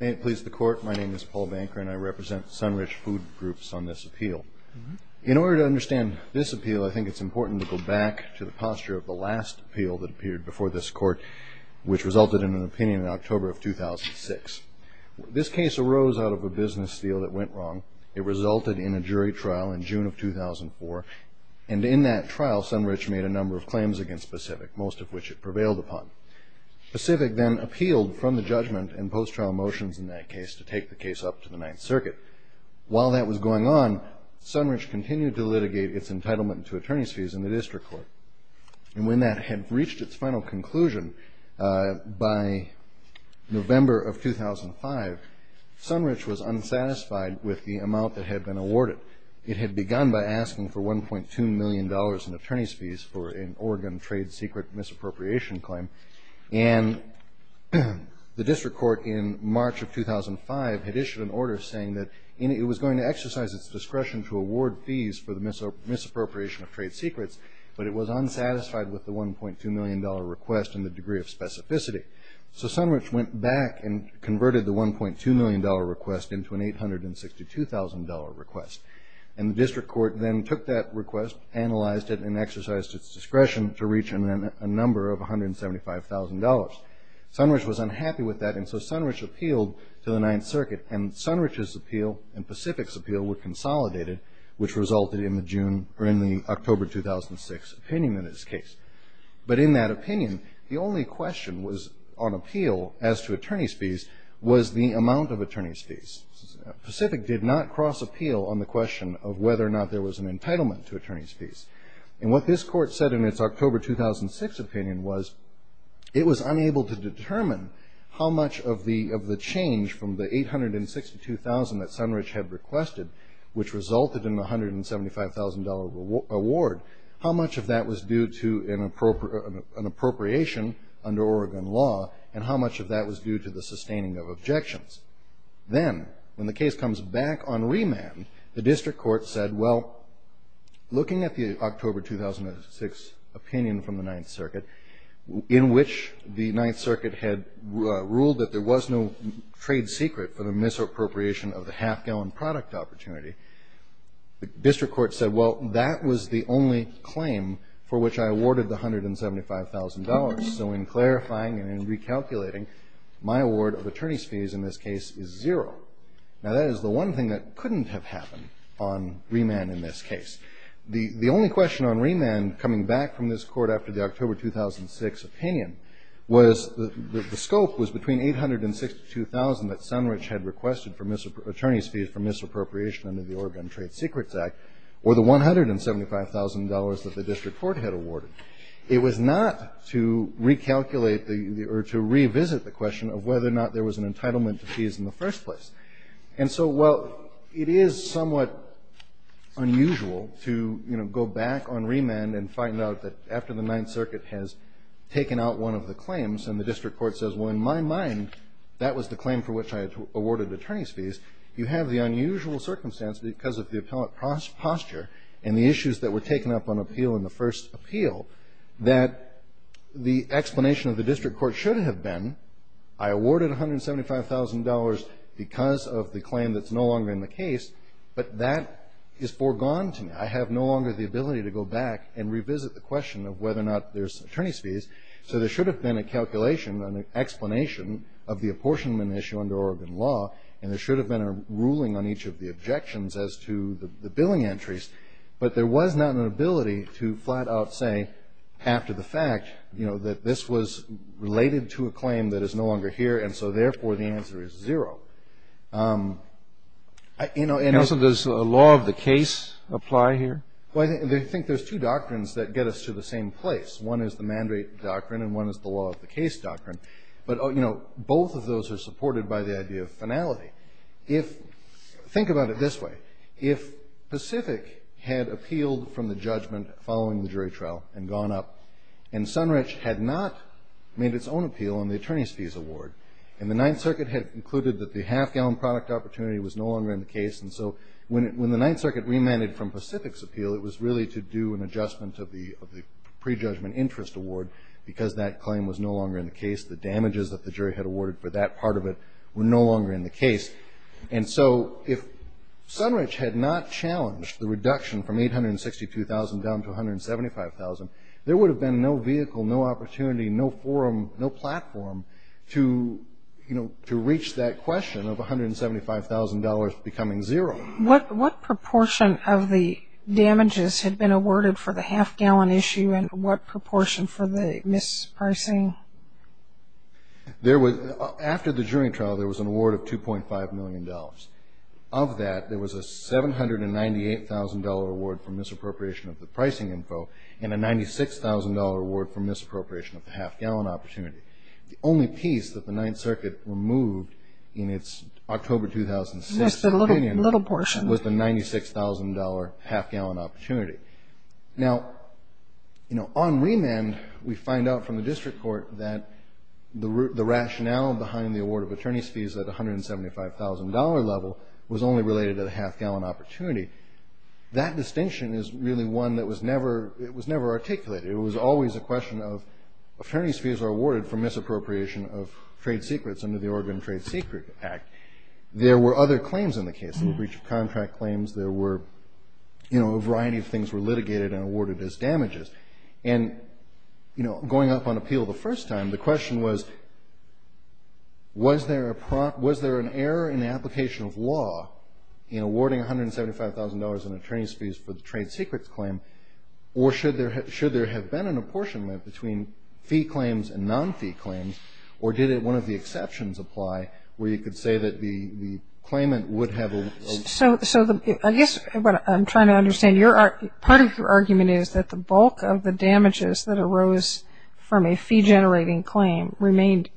May it please the Court, my name is Paul Banker and I represent Sunrich Food Groups on this appeal. In order to understand this appeal, I think it's important to go back to the posture of the last appeal that appeared before this Court, which resulted in an opinion in October of 2006. This case arose out of a business deal that went wrong. It resulted in a jury trial in June of 2004. And in that trial, Sunrich made a number of claims against Pacific, most of which it prevailed upon. Pacific then appealed from the judgment and post-trial motions in that case to take the case up to the Ninth Circuit. While that was going on, Sunrich continued to litigate its entitlement to attorney's fees in the District Court. And when that had reached its final conclusion by November of 2005, Sunrich was unsatisfied with the amount that had been awarded. It had begun by asking for $1.2 million in attorney's fees for an Oregon trade secret misappropriation claim. And the District Court in March of 2005 had issued an order saying that it was going to exercise its discretion to award fees for the misappropriation of trade secrets, but it was unsatisfied with the $1.2 million request and the degree of specificity. So Sunrich went back and converted the $1.2 million request into an $862,000 request. And the District Court then took that request, analyzed it, and exercised its discretion to reach a number of $175,000. Sunrich was unhappy with that, and so Sunrich appealed to the Ninth Circuit. And Sunrich's appeal and Pacific's appeal were consolidated, which resulted in the October 2006 opinion in this case. But in that opinion, the only question on appeal as to attorney's fees was the amount of attorney's fees. Pacific did not cross appeal on the question of whether or not there was an entitlement to attorney's fees. And what this Court said in its October 2006 opinion was it was unable to determine how much of the change from the $862,000 that Sunrich had requested, which resulted in the $175,000 award, how much of that was due to an appropriation under Oregon law, and how much of that was due to the sustaining of objections. Then, when the case comes back on remand, the District Court said, well, looking at the October 2006 opinion from the Ninth Circuit, in which the Ninth Circuit had ruled that there was no trade secret for the misappropriation of the half-gallon product opportunity, the District Court said, well, that was the only claim for which I awarded the $175,000. So in clarifying and in recalculating, my award of attorney's fees in this case is zero. Now, that is the one thing that couldn't have happened on remand in this case. The only question on remand coming back from this Court after the October 2006 opinion was that the scope was between $862,000 that Sunrich had requested for attorney's fees for misappropriation under the Oregon Trade Secrets Act, or the $175,000 that the District Court had awarded. It was not to recalculate or to revisit the question of whether or not there was an entitlement to fees in the first place. And so, well, it is somewhat unusual to, you know, go back on remand and find out that after the Ninth Circuit has taken out one of the claims and the District Court says, well, in my mind, that was the claim for which I awarded attorney's fees, you have the unusual circumstance, because of the appellate posture and the issues that were taken up on appeal in the first appeal, that the explanation of the District Court should have been, I awarded $175,000 because of the $175,000, because of the claim that's no longer in the case, but that is foregone to me. I have no longer the ability to go back and revisit the question of whether or not there's attorney's fees. So there should have been a calculation, an explanation of the apportionment issue under Oregon law, and there should have been a ruling on each of the objections as to the billing entries. But there was not an ability to flat out say, after the fact, you know, that this was related to a claim that is no longer here, and so, therefore, the answer is zero. And also, does the law of the case apply here? Well, I think there's two doctrines that get us to the same place. One is the Mandate Doctrine, and one is the Law of the Case Doctrine. But, you know, both of those are supported by the idea of finality. Think about it this way. If Pacific had appealed from the judgment following the jury trial and gone up, and Sunrich had not made its own appeal on the attorney's fees award, and the Ninth Circuit had concluded that the half-gallon product opportunity was no longer in the case, and so when the Ninth Circuit remanded from Pacific's appeal, it was really to do an adjustment of the prejudgment interest award, because that claim was no longer in the case. The damages that the jury had awarded for that part of it were no longer in the case. And so if Sunrich had not challenged the reduction from $862,000 down to $175,000, there would have been no vehicle, no opportunity, no forum, no platform to, you know, to reach that question of $175,000 becoming zero. What proportion of the damages had been awarded for the half-gallon issue, and what proportion for the mispricing? After the jury trial, there was an award of $2.5 million. Of that, there was a $798,000 award for misappropriation of the pricing info and a $96,000 award for misappropriation of the half-gallon opportunity. The only piece that the Ninth Circuit removed in its October 2006 opinion was the $96,000 half-gallon opportunity. Now, you know, on remand, we find out from the district court that the rationale behind the award of attorney's fees at $175,000 level was only related to the half-gallon opportunity. That distinction is really one that was never articulated. It was always a question of, attorney's fees are awarded for misappropriation of trade secrets under the Oregon Trade Secret Act. There were other claims in the case, breach of contract claims. There were, you know, a variety of things were litigated and awarded as damages. And, you know, going up on appeal the first time, the question was, was there an error in the application of law in awarding $175,000 in attorney's fees for the trade secrets claim, or should there have been an apportionment between fee claims and non-fee claims, or did one of the exceptions apply where you could say that the claimant would have a... So I guess what I'm trying to understand, part of your argument is that the bulk of the damages that arose from a fee-generating claim remained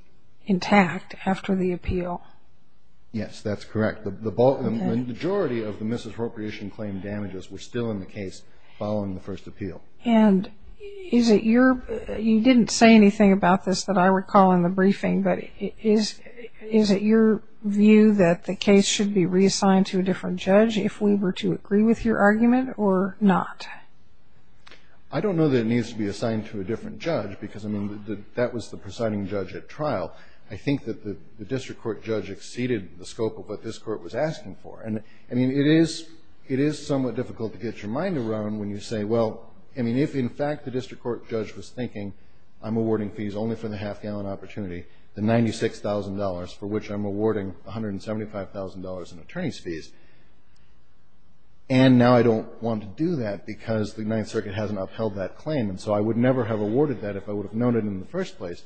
intact after the appeal. Yes, that's correct. The majority of the misappropriation claim damages were still in the case following the first appeal. And is it your... you didn't say anything about this that I recall in the briefing, but is it your view that the case should be reassigned to a different judge if we were to agree with your argument or not? I don't know that it needs to be assigned to a different judge, because, I mean, that was the presiding judge at trial. I think that the district court judge exceeded the scope of what this court was asking for. And, I mean, it is somewhat difficult to get your mind around when you say, well, I mean, if, in fact, the district court judge was thinking, I'm awarding fees only for the half-gallon opportunity, the $96,000, for which I'm awarding $175,000 in attorney's fees, and now I don't want to do that because the Ninth Circuit hasn't upheld that claim, and so I would never have awarded that if I would have known it in the first place.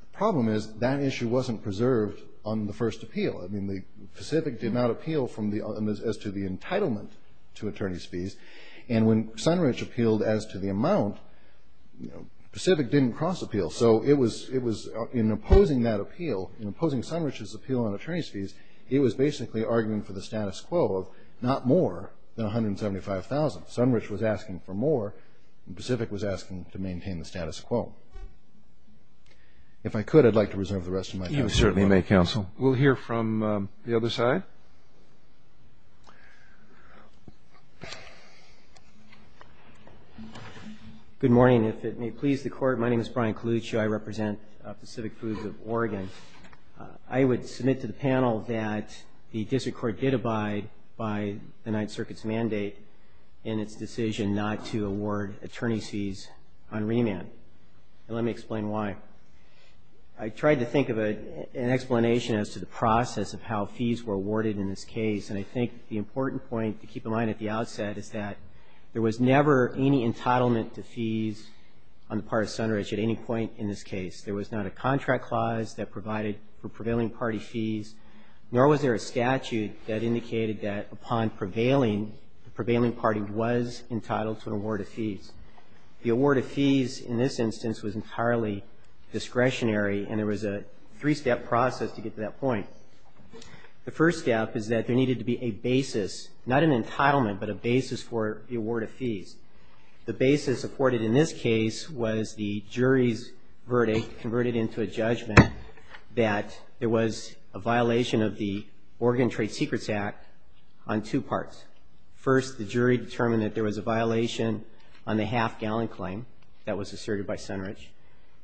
The problem is that issue wasn't preserved on the first appeal. I mean, Pacific did not appeal as to the entitlement to attorney's fees. And when Sunridge appealed as to the amount, Pacific didn't cross-appeal. So it was in opposing that appeal, in opposing Sunridge's appeal on attorney's fees, he was basically arguing for the status quo of not more than $175,000. Sunridge was asking for more, and Pacific was asking to maintain the status quo. If I could, I'd like to reserve the rest of my time. You certainly may, counsel. We'll hear from the other side. Good morning. If it may please the Court, my name is Brian Coluccio. I represent Pacific Foods of Oregon. I would submit to the panel that the District Court did abide by the Ninth Circuit's mandate in its decision not to award attorney's fees on remand, and let me explain why. I tried to think of an explanation as to the process of how fees were awarded in this case, and I think the important point to keep in mind at the outset is that there was never any entitlement to fees on the part of Sunridge at any point in this case. There was not a contract clause that provided for prevailing party fees, nor was there a statute that indicated that upon prevailing, The award of fees in this instance was entirely discretionary, and there was a three-step process to get to that point. The first step is that there needed to be a basis, not an entitlement, but a basis for the award of fees. The basis afforded in this case was the jury's verdict converted into a judgment that there was a violation of the Oregon Trade Secrets Act on two parts. First, the jury determined that there was a violation on the half-gallon claim that was asserted by Sunridge,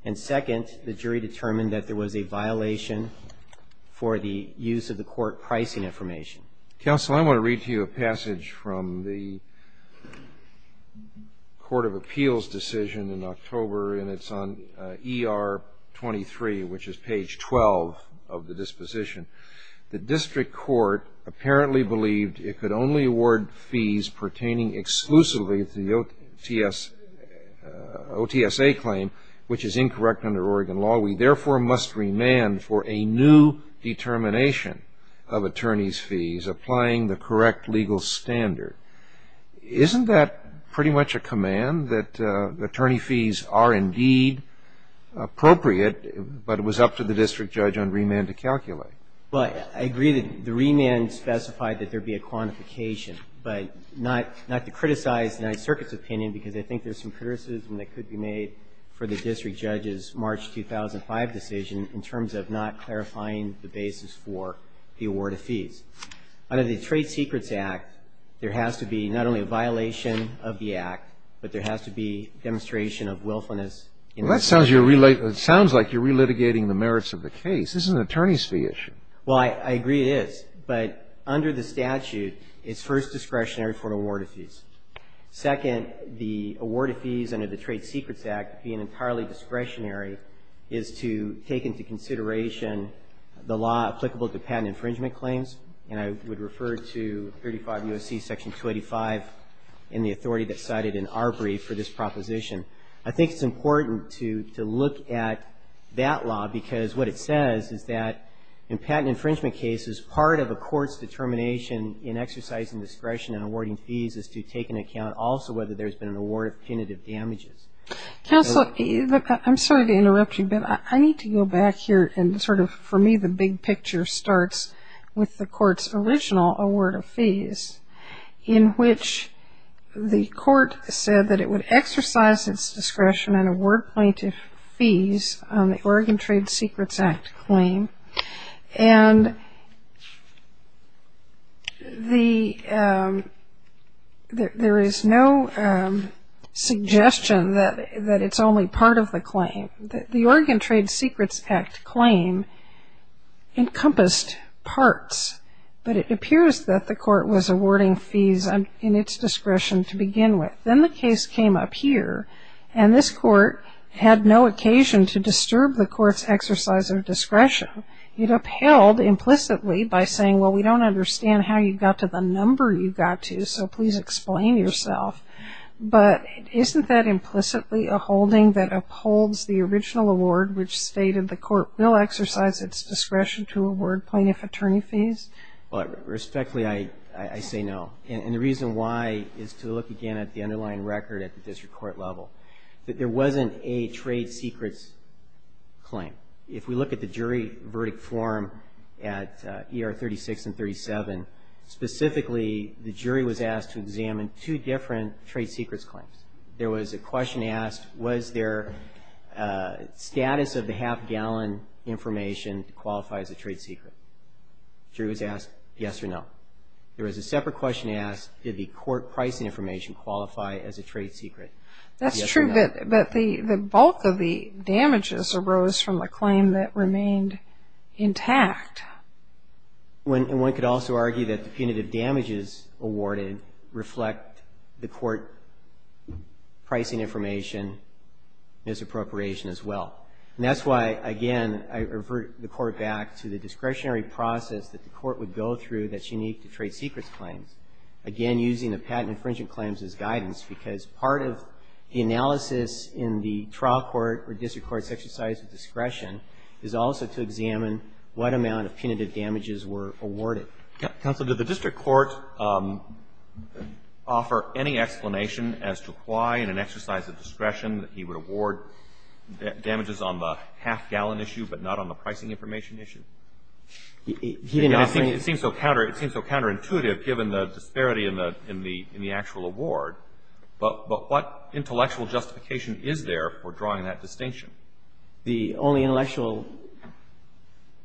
and second, the jury determined that there was a violation for the use of the court pricing information. Counsel, I want to read to you a passage from the Court of Appeals decision in October, and it's on ER 23, which is page 12 of the disposition. The district court apparently believed it could only award fees pertaining exclusively to the OTSA claim, which is incorrect under Oregon law. We therefore must remand for a new determination of attorneys' fees, applying the correct legal standard. Isn't that pretty much a command, that attorney fees are indeed appropriate, but it was up to the district judge on remand to calculate? Well, I agree that the remand specified that there be a quantification, but not to criticize the Ninth Circuit's opinion, because I think there's some criticism that could be made for the district judge's March 2005 decision in terms of not clarifying the basis for the award of fees. Under the Trade Secrets Act, there has to be not only a violation of the Act, but there has to be demonstration of willfulness in this case. Well, that sounds like you're relitigating the merits of the case. This is an attorney's fee issue. Well, I agree it is. But under the statute, it's first discretionary for award of fees. Second, the award of fees under the Trade Secrets Act being entirely discretionary is to take into consideration the law applicable to patent infringement claims. And I would refer to 35 U.S.C. Section 285 in the authority that's cited in our brief for this proposition. I think it's important to look at that law, because what it says is that in patent infringement cases, part of a court's determination in exercising discretion in awarding fees is to take into account also whether there's been an award of punitive damages. Counsel, I'm sorry to interrupt you, but I need to go back here and sort of, for me, the big picture starts with the court's original award of fees, in which the court said that it would exercise its discretion in award punitive fees on the Oregon Trade Secrets Act claim. And there is no suggestion that it's only part of the claim. The Oregon Trade Secrets Act claim encompassed parts, but it appears that the court was awarding fees in its discretion to begin with. Then the case came up here, and this court had no occasion to disturb the court's exercise of discretion. It upheld implicitly by saying, well, we don't understand how you got to the number you got to, so please explain yourself. But isn't that implicitly a holding that upholds the original award, which stated the court will exercise its discretion to award plaintiff attorney fees? Well, respectfully, I say no. And the reason why is to look again at the underlying record at the district court level, that there wasn't a trade secrets claim. If we look at the jury verdict form at ER 36 and 37, specifically the jury was asked to examine two different trade secrets claims. There was a question asked, was their status of the half-gallon information to qualify as a trade secret? The jury was asked yes or no. There was a separate question asked, did the court pricing information qualify as a trade secret, yes or no? That's true, but the bulk of the damages arose from the claim that remained intact. And one could also argue that the punitive damages awarded reflect the court pricing information, misappropriation as well. And that's why, again, I revert the court back to the discretionary process that the court would go through that's unique to trade secrets claims, again, using the patent infringement claims as guidance, because part of the analysis in the trial court or district court's exercise of discretion is also to examine what amount of punitive damages were awarded. Counsel, did the district court offer any explanation as to why in an exercise of discretion that he would award damages on the half-gallon issue but not on the pricing information issue? He didn't offer any. It seems so counterintuitive given the disparity in the actual award. But what intellectual justification is there for drawing that distinction? The only intellectual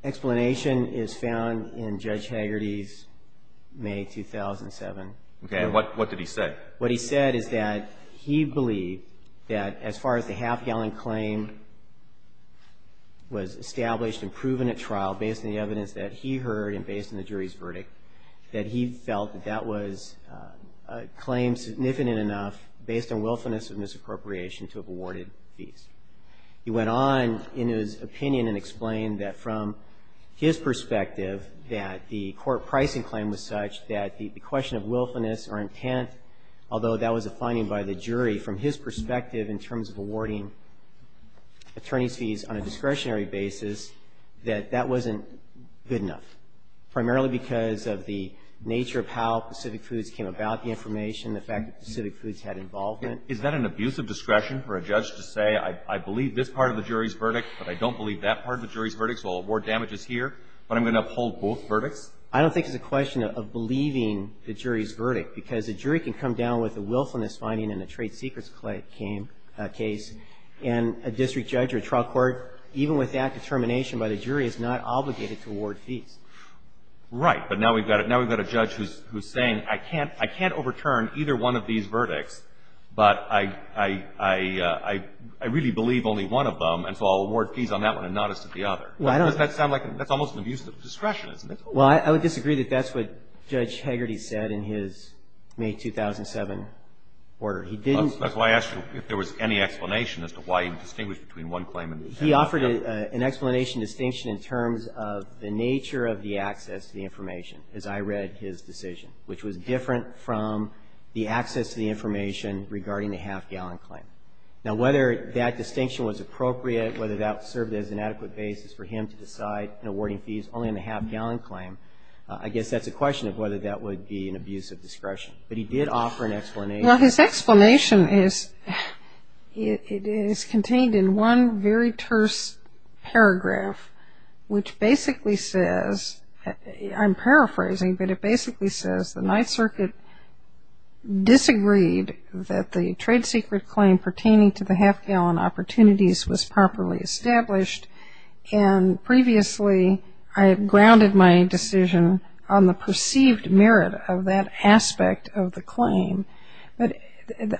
explanation is found in Judge Haggerty's May 2007. Okay. And what did he say? What he said is that he believed that as far as the half-gallon claim was established and proven at trial based on the evidence that he heard and based on the jury's verdict, that he felt that that was a claim significant enough based on willfulness of misappropriation to have awarded fees. He went on in his opinion and explained that from his perspective that the court pricing claim was such that the question of willfulness or intent, although that was a finding by the jury, from his perspective in terms of awarding attorney's fees on a discretionary basis, that that wasn't good enough, primarily because of the nature of how Pacific Foods came about, the information, the fact that Pacific Foods had involvement. Is that an abusive discretion for a judge to say, I believe this part of the jury's verdict, but I don't believe that part of the jury's verdict, so I'll award damages here, but I'm going to uphold both verdicts? I don't think it's a question of believing the jury's verdict, because a jury can come down with a willfulness finding in a trade secrets case, and a district judge or a trial court, even with that determination by the jury, is not obligated to award fees. Right. But now we've got a judge who's saying, I can't overturn either one of these verdicts, but I really believe only one of them, and so I'll award fees on that one and not as to the other. Well, I don't. Because that's almost an abusive discretion, isn't it? Well, I would disagree that that's what Judge Hegarty said in his May 2007 order. He didn't. That's why I asked you if there was any explanation as to why he distinguished between one claim and the other. He offered an explanation distinction in terms of the nature of the access to the information as I read his decision, which was different from the access to the information regarding the half-gallon claim. Now, whether that distinction was appropriate, whether that served as an adequate basis for him to decide in awarding fees only on the half-gallon claim, I guess that's a question of whether that would be an abusive discretion. But he did offer an explanation. It is contained in one very terse paragraph, which basically says, I'm paraphrasing, but it basically says the Ninth Circuit disagreed that the trade secret claim pertaining to the half-gallon opportunities was properly established, and previously I have grounded my decision on the perceived merit of that aspect of the claim. But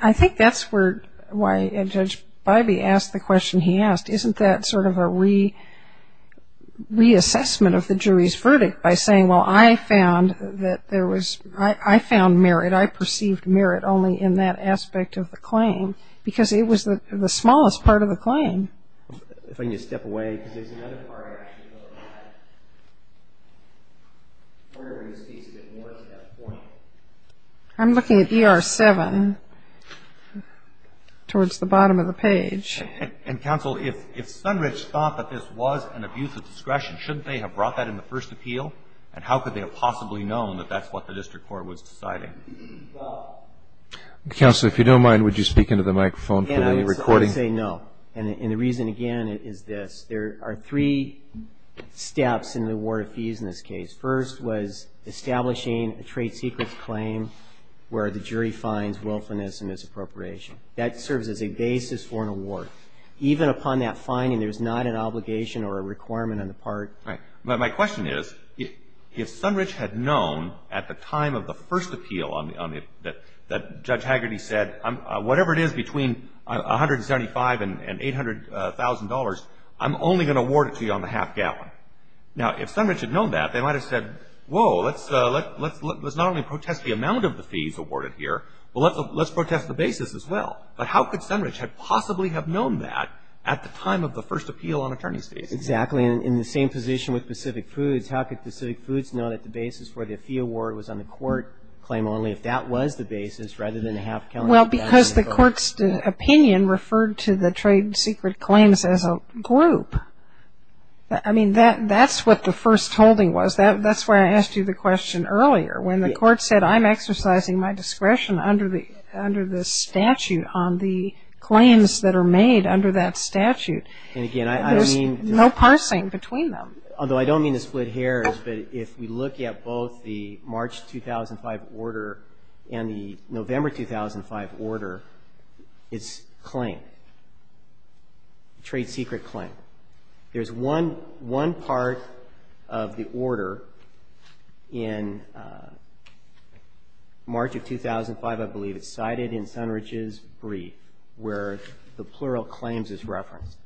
I think that's why Judge Bybee asked the question he asked. Isn't that sort of a reassessment of the jury's verdict by saying, well, I found that there was merit, I perceived merit only in that aspect of the claim because it was the smallest part of the claim? If I can just step away, because there's another part I actually don't know about. I'm going to read this piece a bit more to that point. I'm looking at ER-7 towards the bottom of the page. And, Counsel, if Sunridge thought that this was an abusive discretion, shouldn't they have brought that in the first appeal? And how could they have possibly known that that's what the district court was deciding? Counsel, if you don't mind, would you speak into the microphone for the recording? I would say no. And the reason, again, is this. There are three steps in the award of fees in this case. First was establishing a trade secrets claim where the jury finds willfulness and misappropriation. That serves as a basis for an award. Even upon that finding, there's not an obligation or a requirement on the part. Right. But my question is, if Sunridge had known at the time of the first appeal that Judge Hagerty said, whatever it is between $175,000 and $800,000, I'm only going to award it to you on the half gallon. Now, if Sunridge had known that, they might have said, whoa, let's not only protest the amount of the fees awarded here, but let's protest the basis as well. But how could Sunridge possibly have known that at the time of the first appeal on attorney's fees? Exactly. In the same position with Pacific Foods, how could Pacific Foods know that the basis for the fee award was on the court claim only, if that was the basis rather than the half gallon? Well, because the court's opinion referred to the trade secret claims as a group. I mean, that's what the first holding was. That's why I asked you the question earlier. When the court said, I'm exercising my discretion under the statute on the claims that are made under that statute, there's no parsing between them. Although I don't mean to split hairs, but if we look at both the March 2005 order and the November 2005 order, it's a claim, a trade secret claim. There's one part of the order in March of 2005, I believe. It's cited in Sunridge's brief where the plural claims is referenced.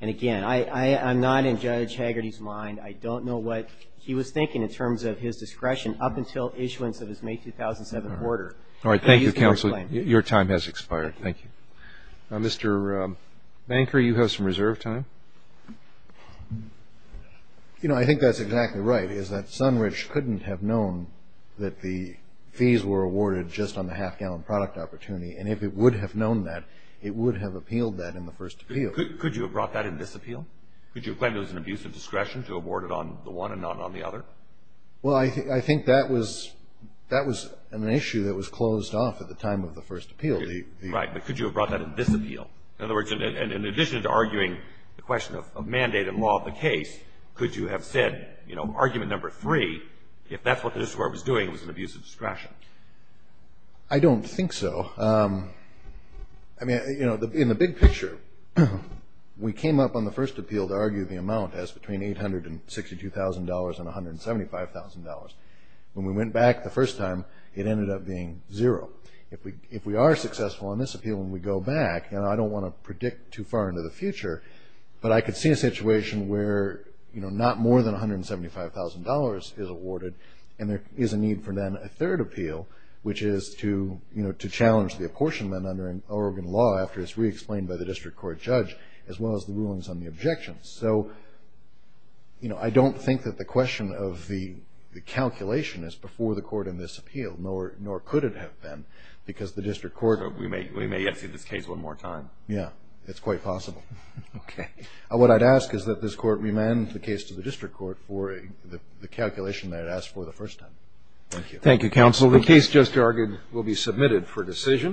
And, again, I'm not in Judge Hagerty's mind. I don't know what he was thinking in terms of his discretion up until issuance of his May 2007 order. All right. Thank you, counsel. Your time has expired. Thank you. Mr. Banker, you have some reserve time. You know, I think that's exactly right, is that Sunridge couldn't have known that the fees were awarded just on the half gallon product opportunity. And if it would have known that, it would have appealed that in the first appeal. Could you have brought that in this appeal? Could you have claimed it was an abuse of discretion to award it on the one and not on the other? Well, I think that was an issue that was closed off at the time of the first appeal. Right, but could you have brought that in this appeal? In other words, in addition to arguing the question of mandate and law of the case, could you have said, you know, argument number three, if that's what the district court was doing, it was an abuse of discretion? I don't think so. I mean, you know, in the big picture, we came up on the first appeal to argue the amount as between $862,000 and $175,000. When we went back the first time, it ended up being zero. If we are successful in this appeal and we go back, and I don't want to predict too far into the future, but I could see a situation where, you know, not more than $175,000 is awarded, and there is a need for then a third appeal, which is to, you know, to challenge the apportionment under Oregon law after it's re-explained by the district court judge, as well as the rulings on the objections. So, you know, I don't think that the question of the calculation is before the court in this appeal, nor could it have been, because the district court— We may have to see this case one more time. Yeah, it's quite possible. Okay. What I'd ask is that this court remand the case to the district court for the calculation they had asked for the first time. Thank you. Thank you, counsel. The case just argued will be submitted for decision.